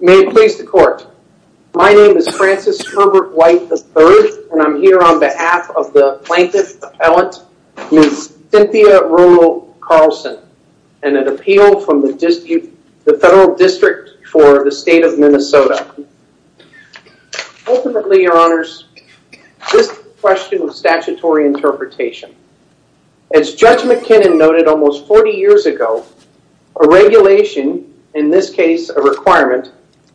May it please the court. My name is Francis Herbert White III and I'm here on behalf of the plaintiff appellant Cynthia Rollo-Carlson and an appeal from the dispute the federal district for the state of Minnesota Ultimately your honors this question of statutory interpretation as Judge McKinnon noted almost 40 years ago a Regulation in this case a requirement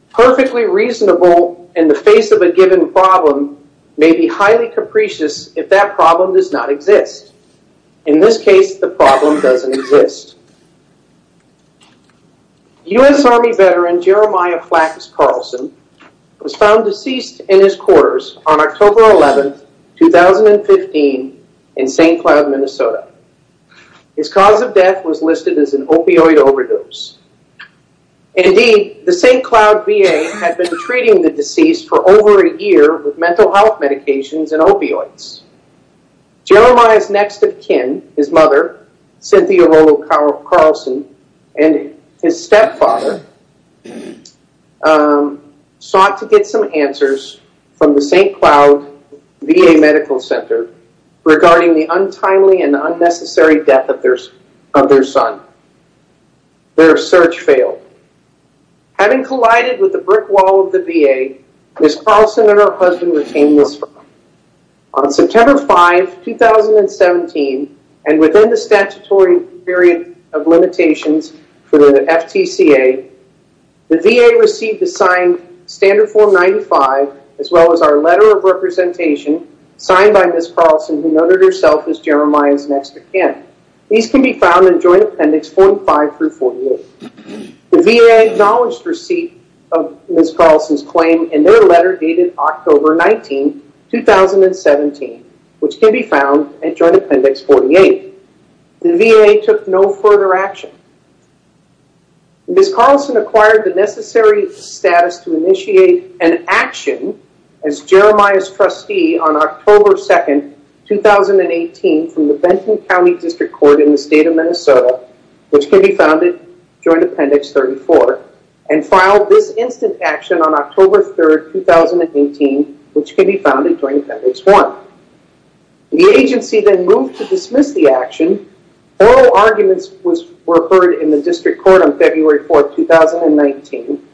perfectly reasonable in the face of a given problem may be highly capricious if that problem does not exist in This case the problem doesn't exist U.s. Army veteran Jeremiah Flax Carlson was found deceased in his quarters on October 11th 2015 in St. Cloud, Minnesota His cause of death was listed as an opioid overdose Indeed the St. Cloud VA had been treating the deceased for over a year with mental health medications and opioids Jeremiah's next-of-kin his mother Cynthia Rollo-Carlson and his stepfather Sought to get some answers from the St. Cloud VA Medical Center Regarding the untimely and unnecessary death of theirs of their son their search failed Having collided with the brick wall of the VA. Ms. Carlson and her husband retained this on September 5 2017 and within the statutory period of limitations for the FTCA The VA received a signed standard form 95 as well as our letter of representation Signed by Ms. Carlson who noted herself as Jeremiah's next-of-kin. These can be found in Joint Appendix 45 through 48 The VA acknowledged receipt of Ms. Carlson's claim and their letter dated October 19 2017 which can be found at Joint Appendix 48. The VA took no further action Ms. Carlson acquired the necessary status to initiate an action as Jeremiah's trustee on October 2nd 2018 from the Benton County District Court in the state of Minnesota Which can be founded Joint Appendix 34 and filed this instant action on October 3rd 2018 which can be found in Joint Appendix 1 The agency then moved to dismiss the action Oral arguments was referred in the district court on February 4th 2019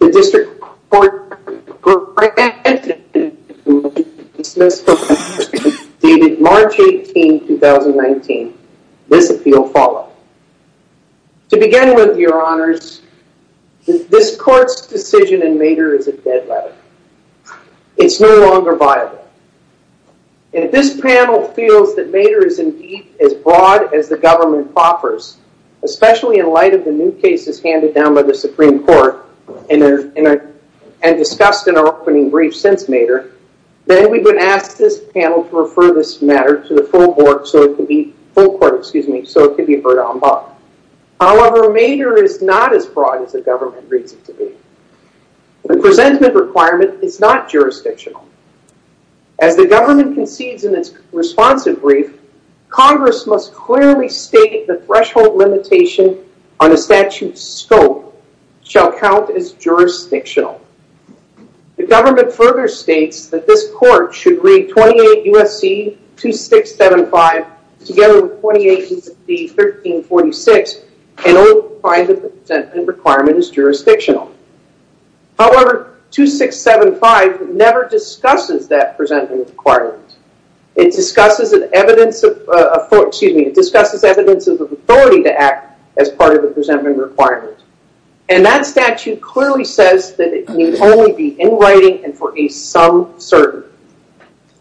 the district court granted dated March 18, 2019 this appeal followed To begin with your honors This court's decision in Maeder is a dead letter It's no longer viable And this panel feels that Maeder is indeed as broad as the government offers Especially in light of the new cases handed down by the Supreme Court and Discussed in our opening brief since Maeder Then we've been asked this panel to refer this matter to the full board so it can be full court Excuse me, so it could be heard on by However, Maeder is not as broad as the government reads it to be The presentment requirement is not jurisdictional as the government concedes in its responsive brief Congress must clearly state the threshold limitation on the statute scope shall count as jurisdictional The government further states that this court should read 28 USC 2675 together with 28 1346 and all kinds of the presentment requirement is jurisdictional however 2675 never discusses that presentment requirement It discusses an evidence of excuse me, it discusses evidence of the authority to act as part of the presentment requirement and That statute clearly says that it can only be in writing and for a some certain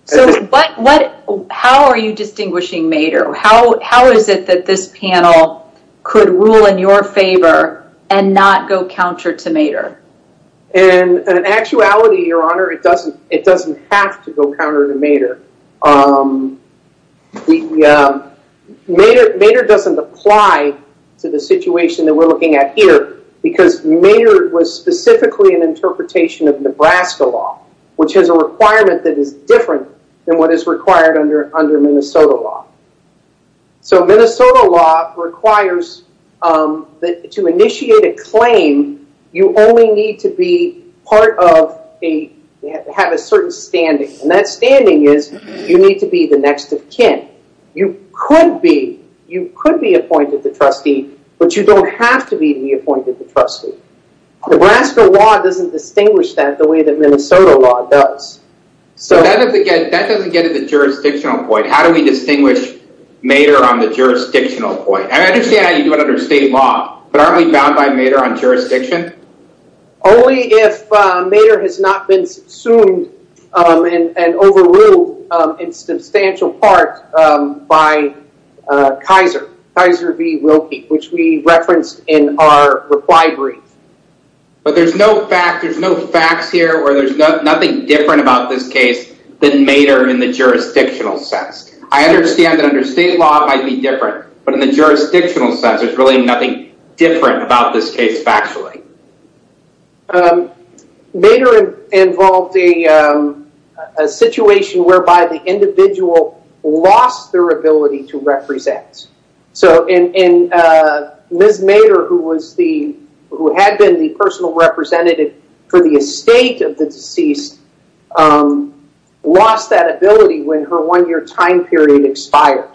So what what how are you distinguishing Maeder? How how is it that this panel? could rule in your favor and not go counter to Maeder and Actuality your honor. It doesn't it doesn't have to go counter to Maeder The Maeder doesn't apply to the situation that we're looking at here because Maeder was specifically an Interpretation of Nebraska law which has a requirement that is different than what is required under under Minnesota law so Minnesota law requires That to initiate a claim you only need to be part of a Have a certain standing and that standing is you need to be the next of kin You could be you could be appointed the trustee, but you don't have to be the appointed the trustee Nebraska law doesn't distinguish that the way that Minnesota law does So that doesn't get at the jurisdictional point. How do we distinguish? Maeder on the jurisdictional point. I understand how you do it under state law, but aren't we bound by Maeder on jurisdiction? Only if Maeder has not been assumed and overruled in substantial part by Kaiser Kaiser v. Wilkie, which we referenced in our reply brief But there's no fact there's no facts here or there's nothing different about this case than Maeder in the jurisdictional sense I understand that under state law it might be different, but in the jurisdictional sense there's really nothing different about this case factually Maeder involved a Situation whereby the individual lost their ability to represent so in Ms. Maeder who was the who had been the personal representative for the estate of the deceased Lost that ability when her one-year time period expired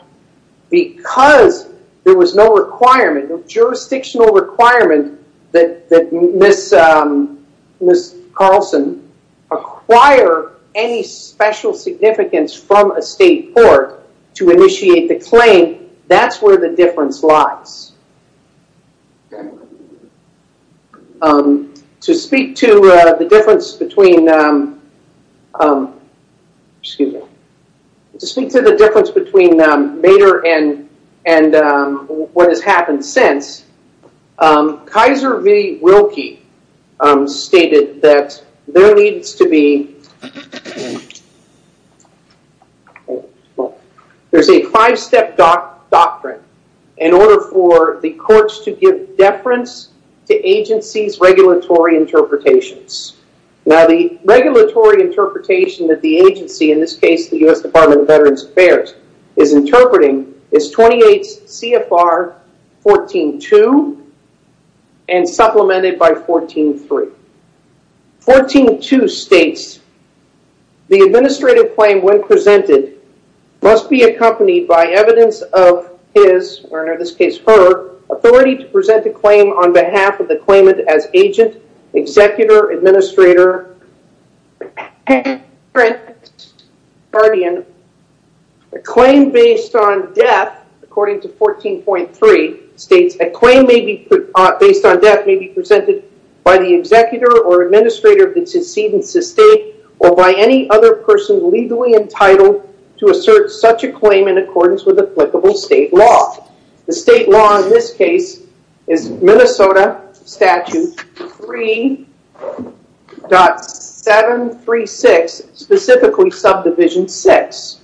Because there was no requirement of jurisdictional requirement that that miss Miss Carlson Acquire any special significance from a state court to initiate the claim. That's where the difference lies To speak to the difference between Excuse me to speak to the difference between Maeder and and What has happened since? Kaiser v. Wilkie stated that there needs to be There's a five-step Doctrine in order for the courts to give deference to agencies regulatory Interpretations now the regulatory interpretation that the agency in this case the US Department of Veterans Affairs is interpreting is 28 CFR 14-2 and supplemented by 14-3 14-2 states The administrative claim when presented must be accompanied by evidence of his or in this case her Authority to present a claim on behalf of the claimant as agent executor administrator Guardian the claim based on death according to 14.3 states a claim may be based on death may be presented by the executor or Administrator of the decedent's estate or by any other person legally entitled to assert such a claim in accordance with applicable state law the state law in this case is Minnesota statute 3.7 3-6 specifically subdivision 6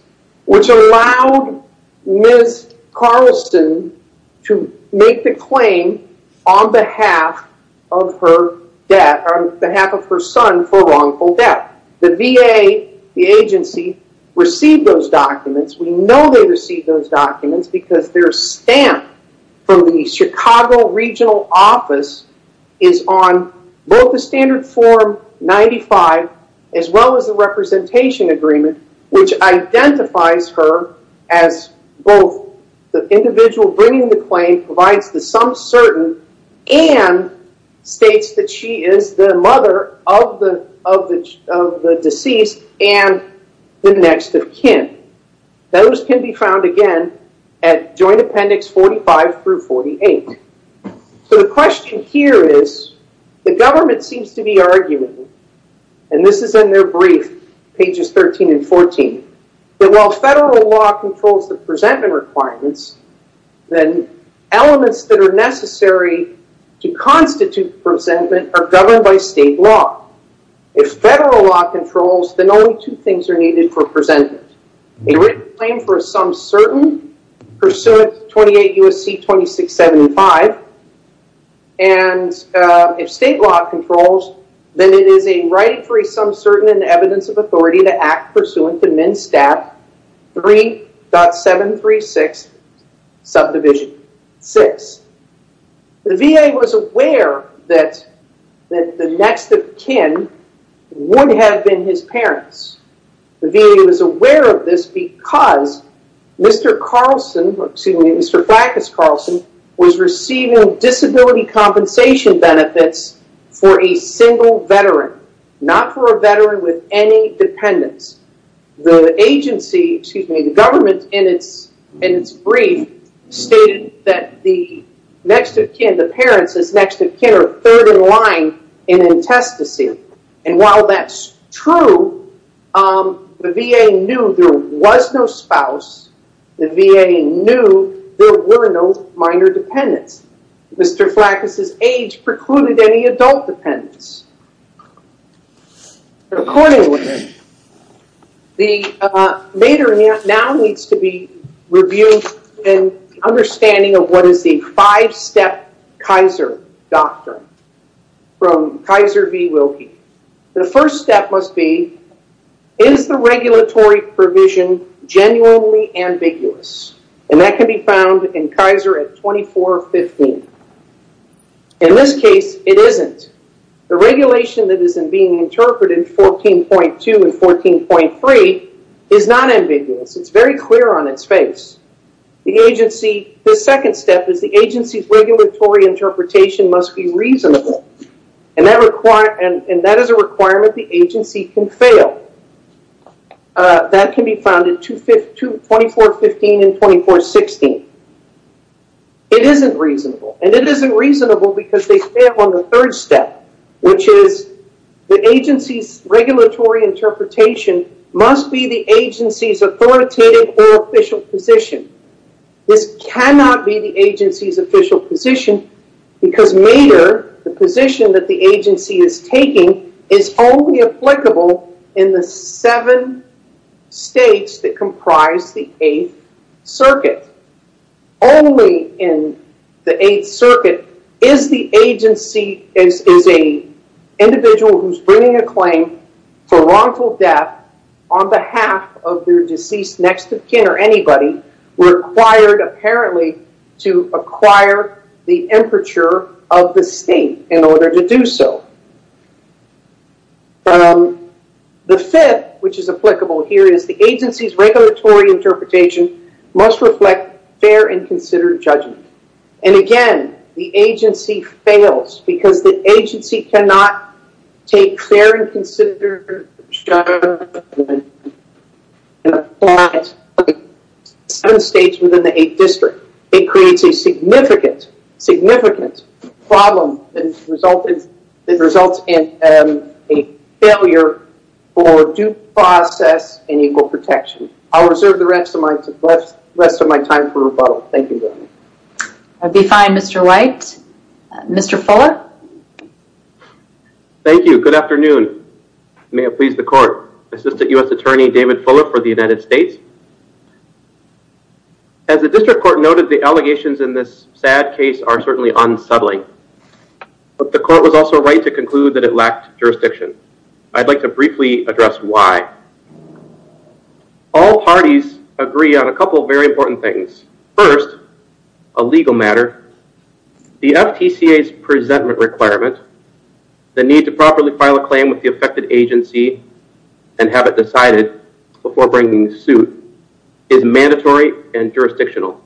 which allowed Miss Carlson to make the claim on behalf of her Dad on behalf of her son for wrongful death the VA the agency Received those documents. We know they received those documents because their stamp from the Chicago regional office is on both the standard form 95 as well as the representation agreement which identifies her as both the individual bringing the claim provides the some certain and states that she is the mother of the of the deceased and the next of kin Those can be found again at Joint Appendix 45 through 48 So the question here is the government seems to be arguing and this is in their brief pages 13 and 14 But while federal law controls the presentment requirements then elements that are necessary to Present a written claim for some certain pursuant 28 USC 2675 and If state law controls then it is a right free some certain and evidence of authority to act pursuant to minstaff three dot seven three six subdivision six The VA was aware that that the next of kin Wouldn't have been his parents the VA was aware of this because Mr. Carlson, excuse me. Mr. Black is Carlson was receiving disability compensation benefits for a single veteran not for a veteran with any Dependence the agency excuse me the government in its in its brief stated that the next of kin the parents is next of kin or third in line in Contestacy and while that's true The VA knew there was no spouse The VA knew there were no minor dependents. Mr. Flack is his age precluded any adult dependents Accordingly the Mater now needs to be reviewed and Understanding of what is the five-step Kaiser? doctrine From Kaiser v. Wilkie the first step must be is the regulatory provision Genuinely ambiguous and that can be found in Kaiser at 24 15 In this case it isn't the regulation that isn't being interpreted 14.2 and 14.3 is not ambiguous. It's very clear on its face The agency the second step is the agency's regulatory interpretation must be reasonable and That require and and that is a requirement the agency can fail That can be founded to fit to 24 15 and 24 16 It isn't reasonable and it isn't reasonable because they stay up on the third step, which is the agency's regulatory Regulatory interpretation must be the agency's authoritative or official position This cannot be the agency's official position Because mater the position that the agency is taking is only applicable in the seven states that comprise the eighth circuit only in the eighth circuit is the agency as is a Individual who's bringing a claim for wrongful death on behalf of their deceased next-of-kin or anybody We're acquired apparently to acquire the aperture of the state in order to do so The fifth which is applicable here is the agency's regulatory interpretation must reflect fair and considered judgment and again the agency fails because the Take fair and consider Some states within the eighth district it creates a significant significant problem and resulted in results in a Failure for due process and equal protection. I'll reserve the rest of my left rest of my time for rebuttal. Thank you I'd be fine. Mr. White Mr. Fuller Thank you, good afternoon, may it please the court assistant US Attorney David Fuller for the United States As the district court noted the allegations in this sad case are certainly unsettling But the court was also right to conclude that it lacked jurisdiction. I'd like to briefly address why? All parties agree on a couple very important things first a legal matter the FTCA's presentment requirement the need to properly file a claim with the affected agency and Have it decided before bringing suit is mandatory and jurisdictional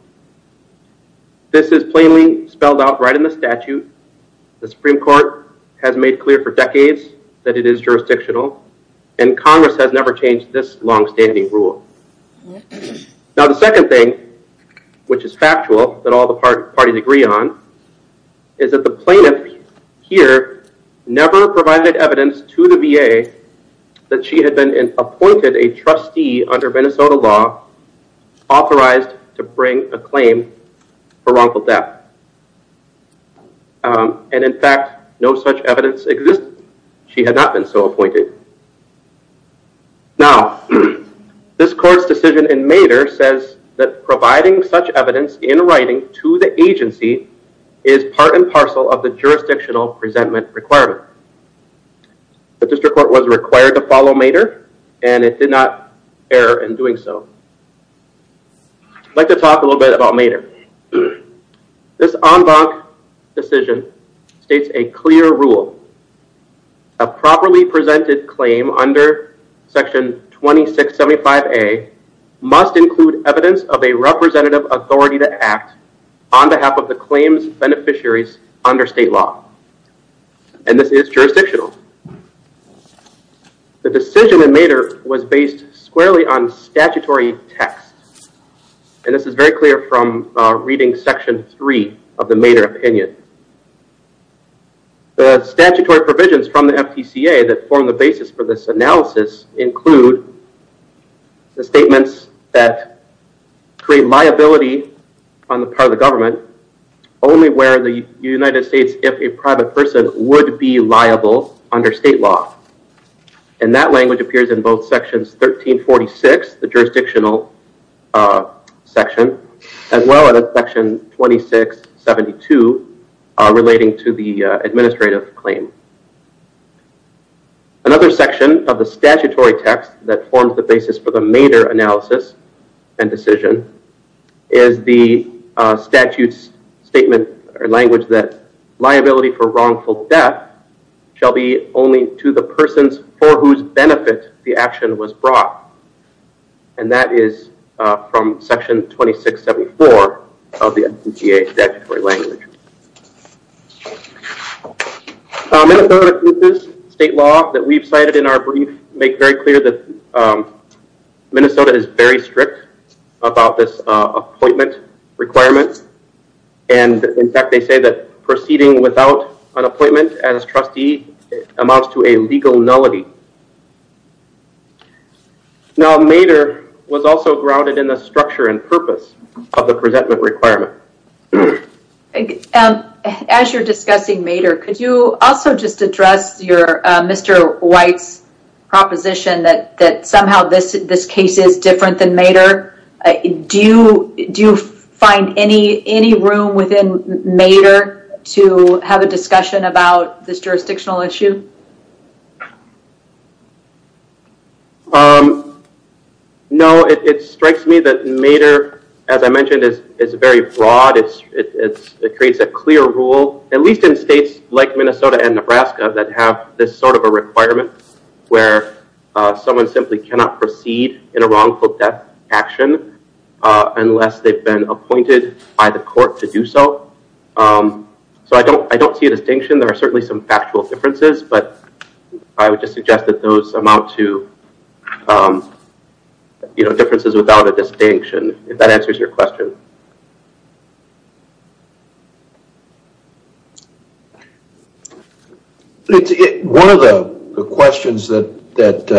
This is plainly spelled out right in the statute The Supreme Court has made clear for decades that it is jurisdictional and Congress has never changed this long-standing rule Now the second thing Which is factual that all the parties agree on is That the plaintiff here never provided evidence to the VA That she had been in appointed a trustee under Minnesota law Authorized to bring a claim for wrongful death And in fact, no such evidence exists she had not been so appointed Now this court's decision in Mater says that providing such evidence in writing to the agency is part and parcel of the jurisdictional presentment requirement The district court was required to follow Mater and it did not err in doing so Like to talk a little bit about Mater this en banc decision states a clear rule a properly presented claim under section 2675 a Must include evidence of a representative authority to act on behalf of the claims beneficiaries under state law and This is jurisdictional The decision in Mater was based squarely on statutory text And this is very clear from reading section 3 of the Mater opinion The statutory provisions from the FTCA that form the basis for this analysis include The statements that create liability on the part of the government only where the United States if a private person would be liable under state law and That language appears in both sections 1346 the jurisdictional Section as well as a section 2672 relating to the administrative claim Another section of the statutory text that forms the basis for the Mater analysis and decision is the statutes statement or language that liability for wrongful death shall be only to the persons for whose benefit the action was brought and That is from section 2674 of the FTCA statutory language Minnesota State law that we've cited in our brief make very clear that Minnesota is very strict about this appointment requirements and In fact, they say that proceeding without an appointment as trustee amounts to a legal nullity Now Mater was also grounded in the structure and purpose of the presentment requirement And as you're discussing Mater, could you also just address your mr. White's Proposition that that somehow this this case is different than Mater Do you do you find any any room within Mater to have a discussion about this jurisdictional issue? Um No, it strikes me that Mater as I mentioned is it's very broad It's it's it creates a clear rule at least in states like, Minnesota and Nebraska that have this sort of a requirement where Someone simply cannot proceed in a wrongful death action Unless they've been appointed by the court to do so So, I don't I don't see a distinction there are certainly some factual differences, but I would just suggest that those amount to You know differences without a distinction if that answers your question One of the questions that that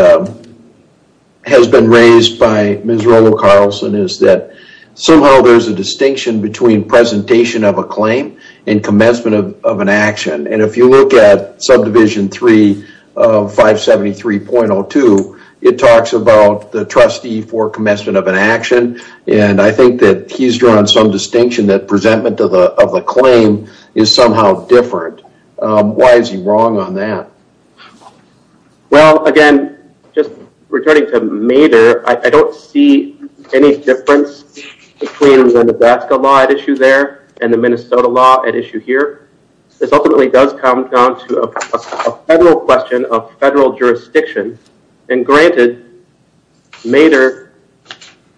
Has been raised by Ms. Rollo Carlson is that somehow there's a distinction between Presentation of a claim and commencement of an action and if you look at subdivision 3 573.02 it talks about the trustee for commencement of an action And I think that he's drawn some distinction that presentment of the of the claim is somehow different Why is he wrong on that? Well again just returning to Mater, I don't see any difference between the Nebraska law at issue there and the Minnesota law at issue here this ultimately does come down to a federal question of federal jurisdiction and granted Mater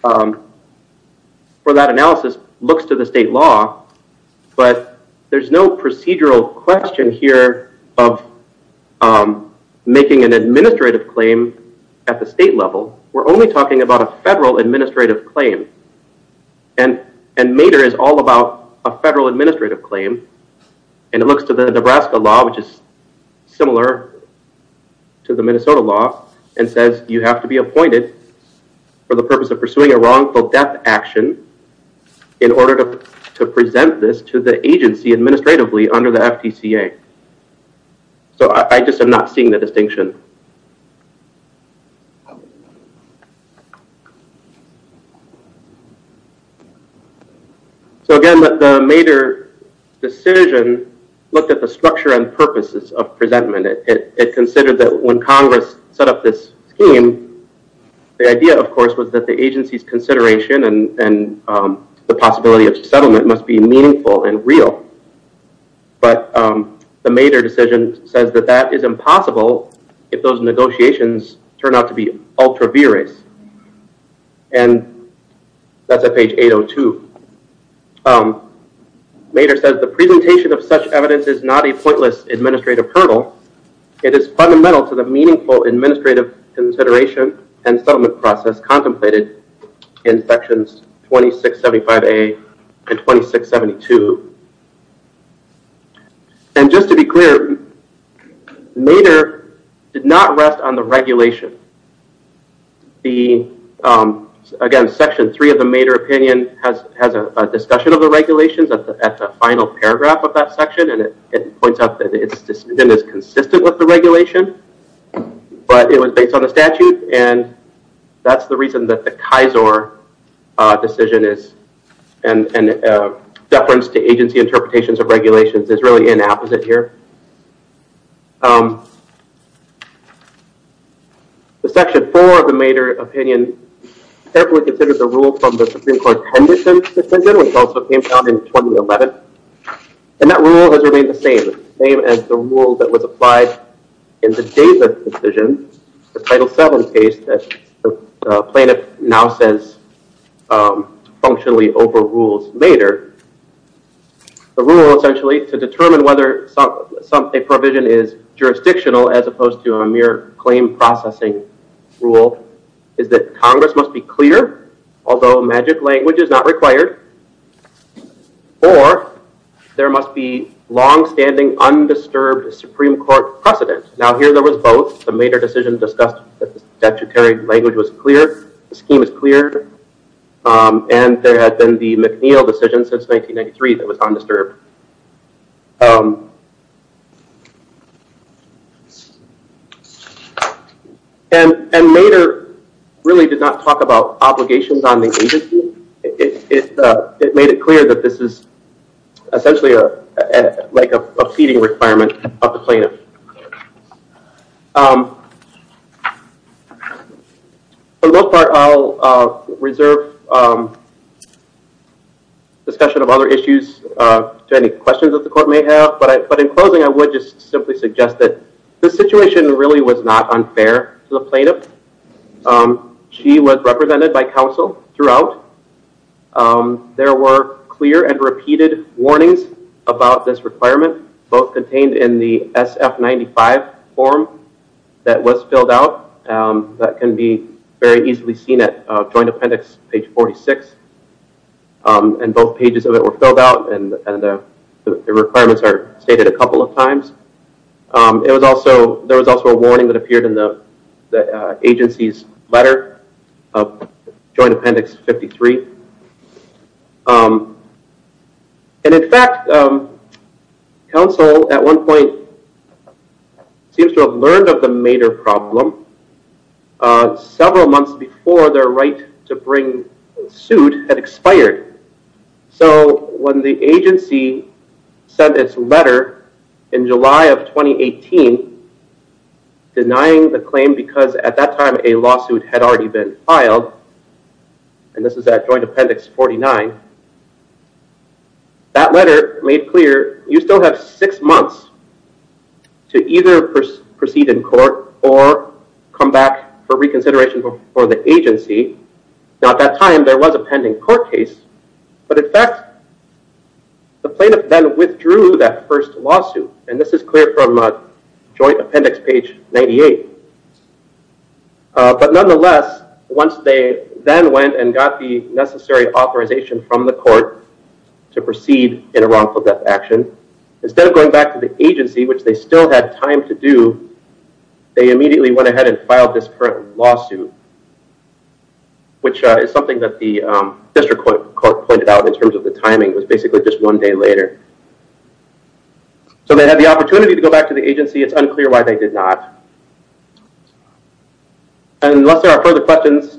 For that analysis looks to the state law, but there's no procedural question here of Making an administrative claim at the state level. We're only talking about a federal administrative claim and And Mater is all about a federal administrative claim and it looks to the Nebraska law, which is similar To the Minnesota law and says you have to be appointed for the purpose of pursuing a wrongful death action In order to present this to the agency administratively under the FTCA So I just have not seen the distinction So again that the Mater Decision looked at the structure and purposes of presentment it considered that when Congress set up this scheme the idea of course was that the agency's consideration and The possibility of settlement must be meaningful and real But the Mater decision says that that is impossible if those negotiations turn out to be ultra vires and That's a page 802 Mater says the presentation of such evidence is not a pointless administrative hurdle It is fundamental to the meaningful administrative consideration and settlement process contemplated in sections 2675 a and 2672 And just to be clear Mater did not rest on the regulation the again section 3 of the Mater opinion has has a Discussion of the regulations at the final paragraph of that section and it points out that it's just been as consistent with the regulation but it was based on a statute and That's the reason that the Kaiser decision is and Deference to agency interpretations of regulations is really an apposite here The section 4 of the Mater opinion carefully considered the rule from the Supreme Court Tendon system which also came down in 2011 And that rule has remained the same name as the rule that was applied in the David decision the title 7 case that plaintiff now says Functionally overrules later The rule essentially to determine whether something provision is Jurisdictional as opposed to a mere claim processing rule is that Congress must be clear? Although magic language is not required Or There must be long-standing Undisturbed Supreme Court precedent now here. There was both the Mater decision discussed that the statutory language was clear. The scheme is clear And there had been the McNeil decision since 1993 that was undisturbed And and later Really did not talk about obligations on the agency. It made it clear that this is essentially a like a seating requirement of the plaintiff A Little part I'll reserve Discussion of other issues To any questions that the court may have but I put in closing I would just simply suggest that the situation really was not unfair to the plaintiff She was represented by counsel throughout There were clear and repeated warnings about this requirement both contained in the SF 95 form That was filled out That can be very easily seen at Joint Appendix page 46 and both pages of it were filled out and Requirements are stated a couple of times it was also there was also a warning that appeared in the agency's letter of Joint Appendix 53 And in fact Counsel at one point Seems to have learned of the mater problem Several months before their right to bring suit had expired so when the agency Sent its letter in July of 2018 Denying the claim because at that time a lawsuit had already been filed and this is that Joint Appendix 49 That letter made clear you still have six months to either proceed in court or Come back for reconsideration before the agency now at that time. There was a pending court case, but in fact The plaintiff then withdrew that first lawsuit and this is clear from a Joint Appendix page 98 But nonetheless once they then went and got the necessary authorization from the court To proceed in a wrongful death action instead of going back to the agency, which they still had time to do They immediately went ahead and filed this current lawsuit Which is something that the district court pointed out in terms of the timing. It was basically just one day later So they had the opportunity to go back to the agency it's unclear why they did not Unless there are further questions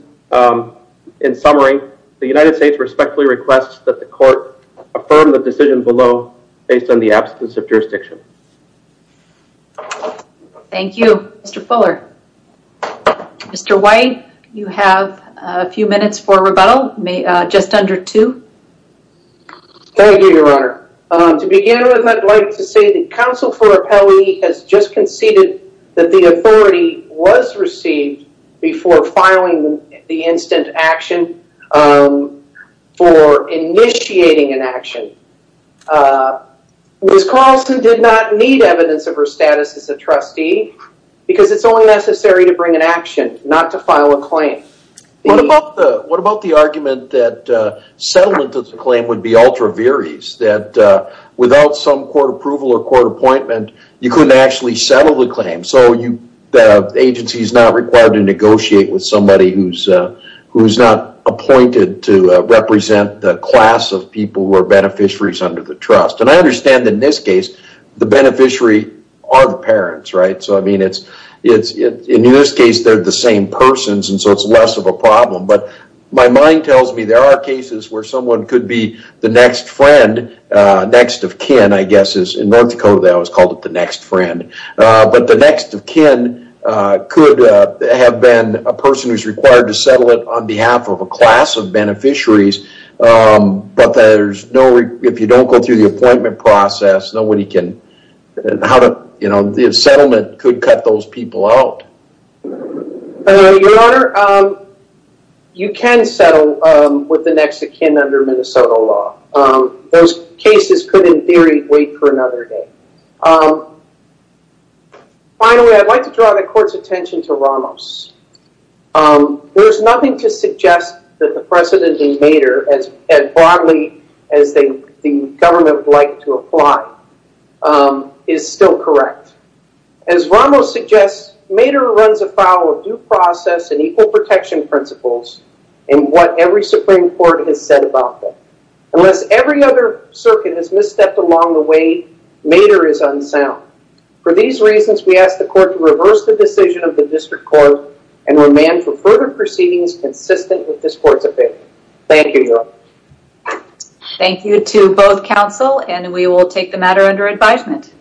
In summary the United States respectfully requests that the court Affirm the decision below based on the absence of jurisdiction Thank You, mr. Fuller Mr. White you have a few minutes for rebuttal may just under two Thank you, Your Honor To begin with I'd like to say that counsel for a penalty has just conceded that the authority was received Before filing the instant action for initiating an action Ms. Carlson did not need evidence of her status as a trustee Because it's only necessary to bring an action not to file a claim What about the argument that? Settlement of the claim would be ultra various that Without some court approval or court appointment you couldn't actually settle the claim so you Agency is not required to negotiate with somebody who's Who's not appointed to represent the class of people who are beneficiaries under the trust and I understand in this case The beneficiary are the parents right so I mean it's it's in this case They're the same persons and so it's less of a problem But my mind tells me there are cases where someone could be the next friend Next of kin I guess is in North Dakota that was called it the next friend But the next of kin Could have been a person who's required to settle it on behalf of a class of beneficiaries But there's no if you don't go through the appointment process nobody can How to you know the settlement could cut those people out? You can settle with the next of kin under Minnesota law those cases could in theory wait for another day I Don't know I'd like to draw the court's attention to Ramos There's nothing to suggest that the precedent in Mater as broadly as they the government would like to apply is still correct as Ramos suggests Mater runs afoul of due process and equal protection principles And what every Supreme Court has said about them unless every other circuit has misstepped along the way Mater is unsound for these reasons We asked the court to reverse the decision of the district court and remand for further proceedings consistent with this court's opinion. Thank you Thank you to both counsel, and we will take the matter under advisement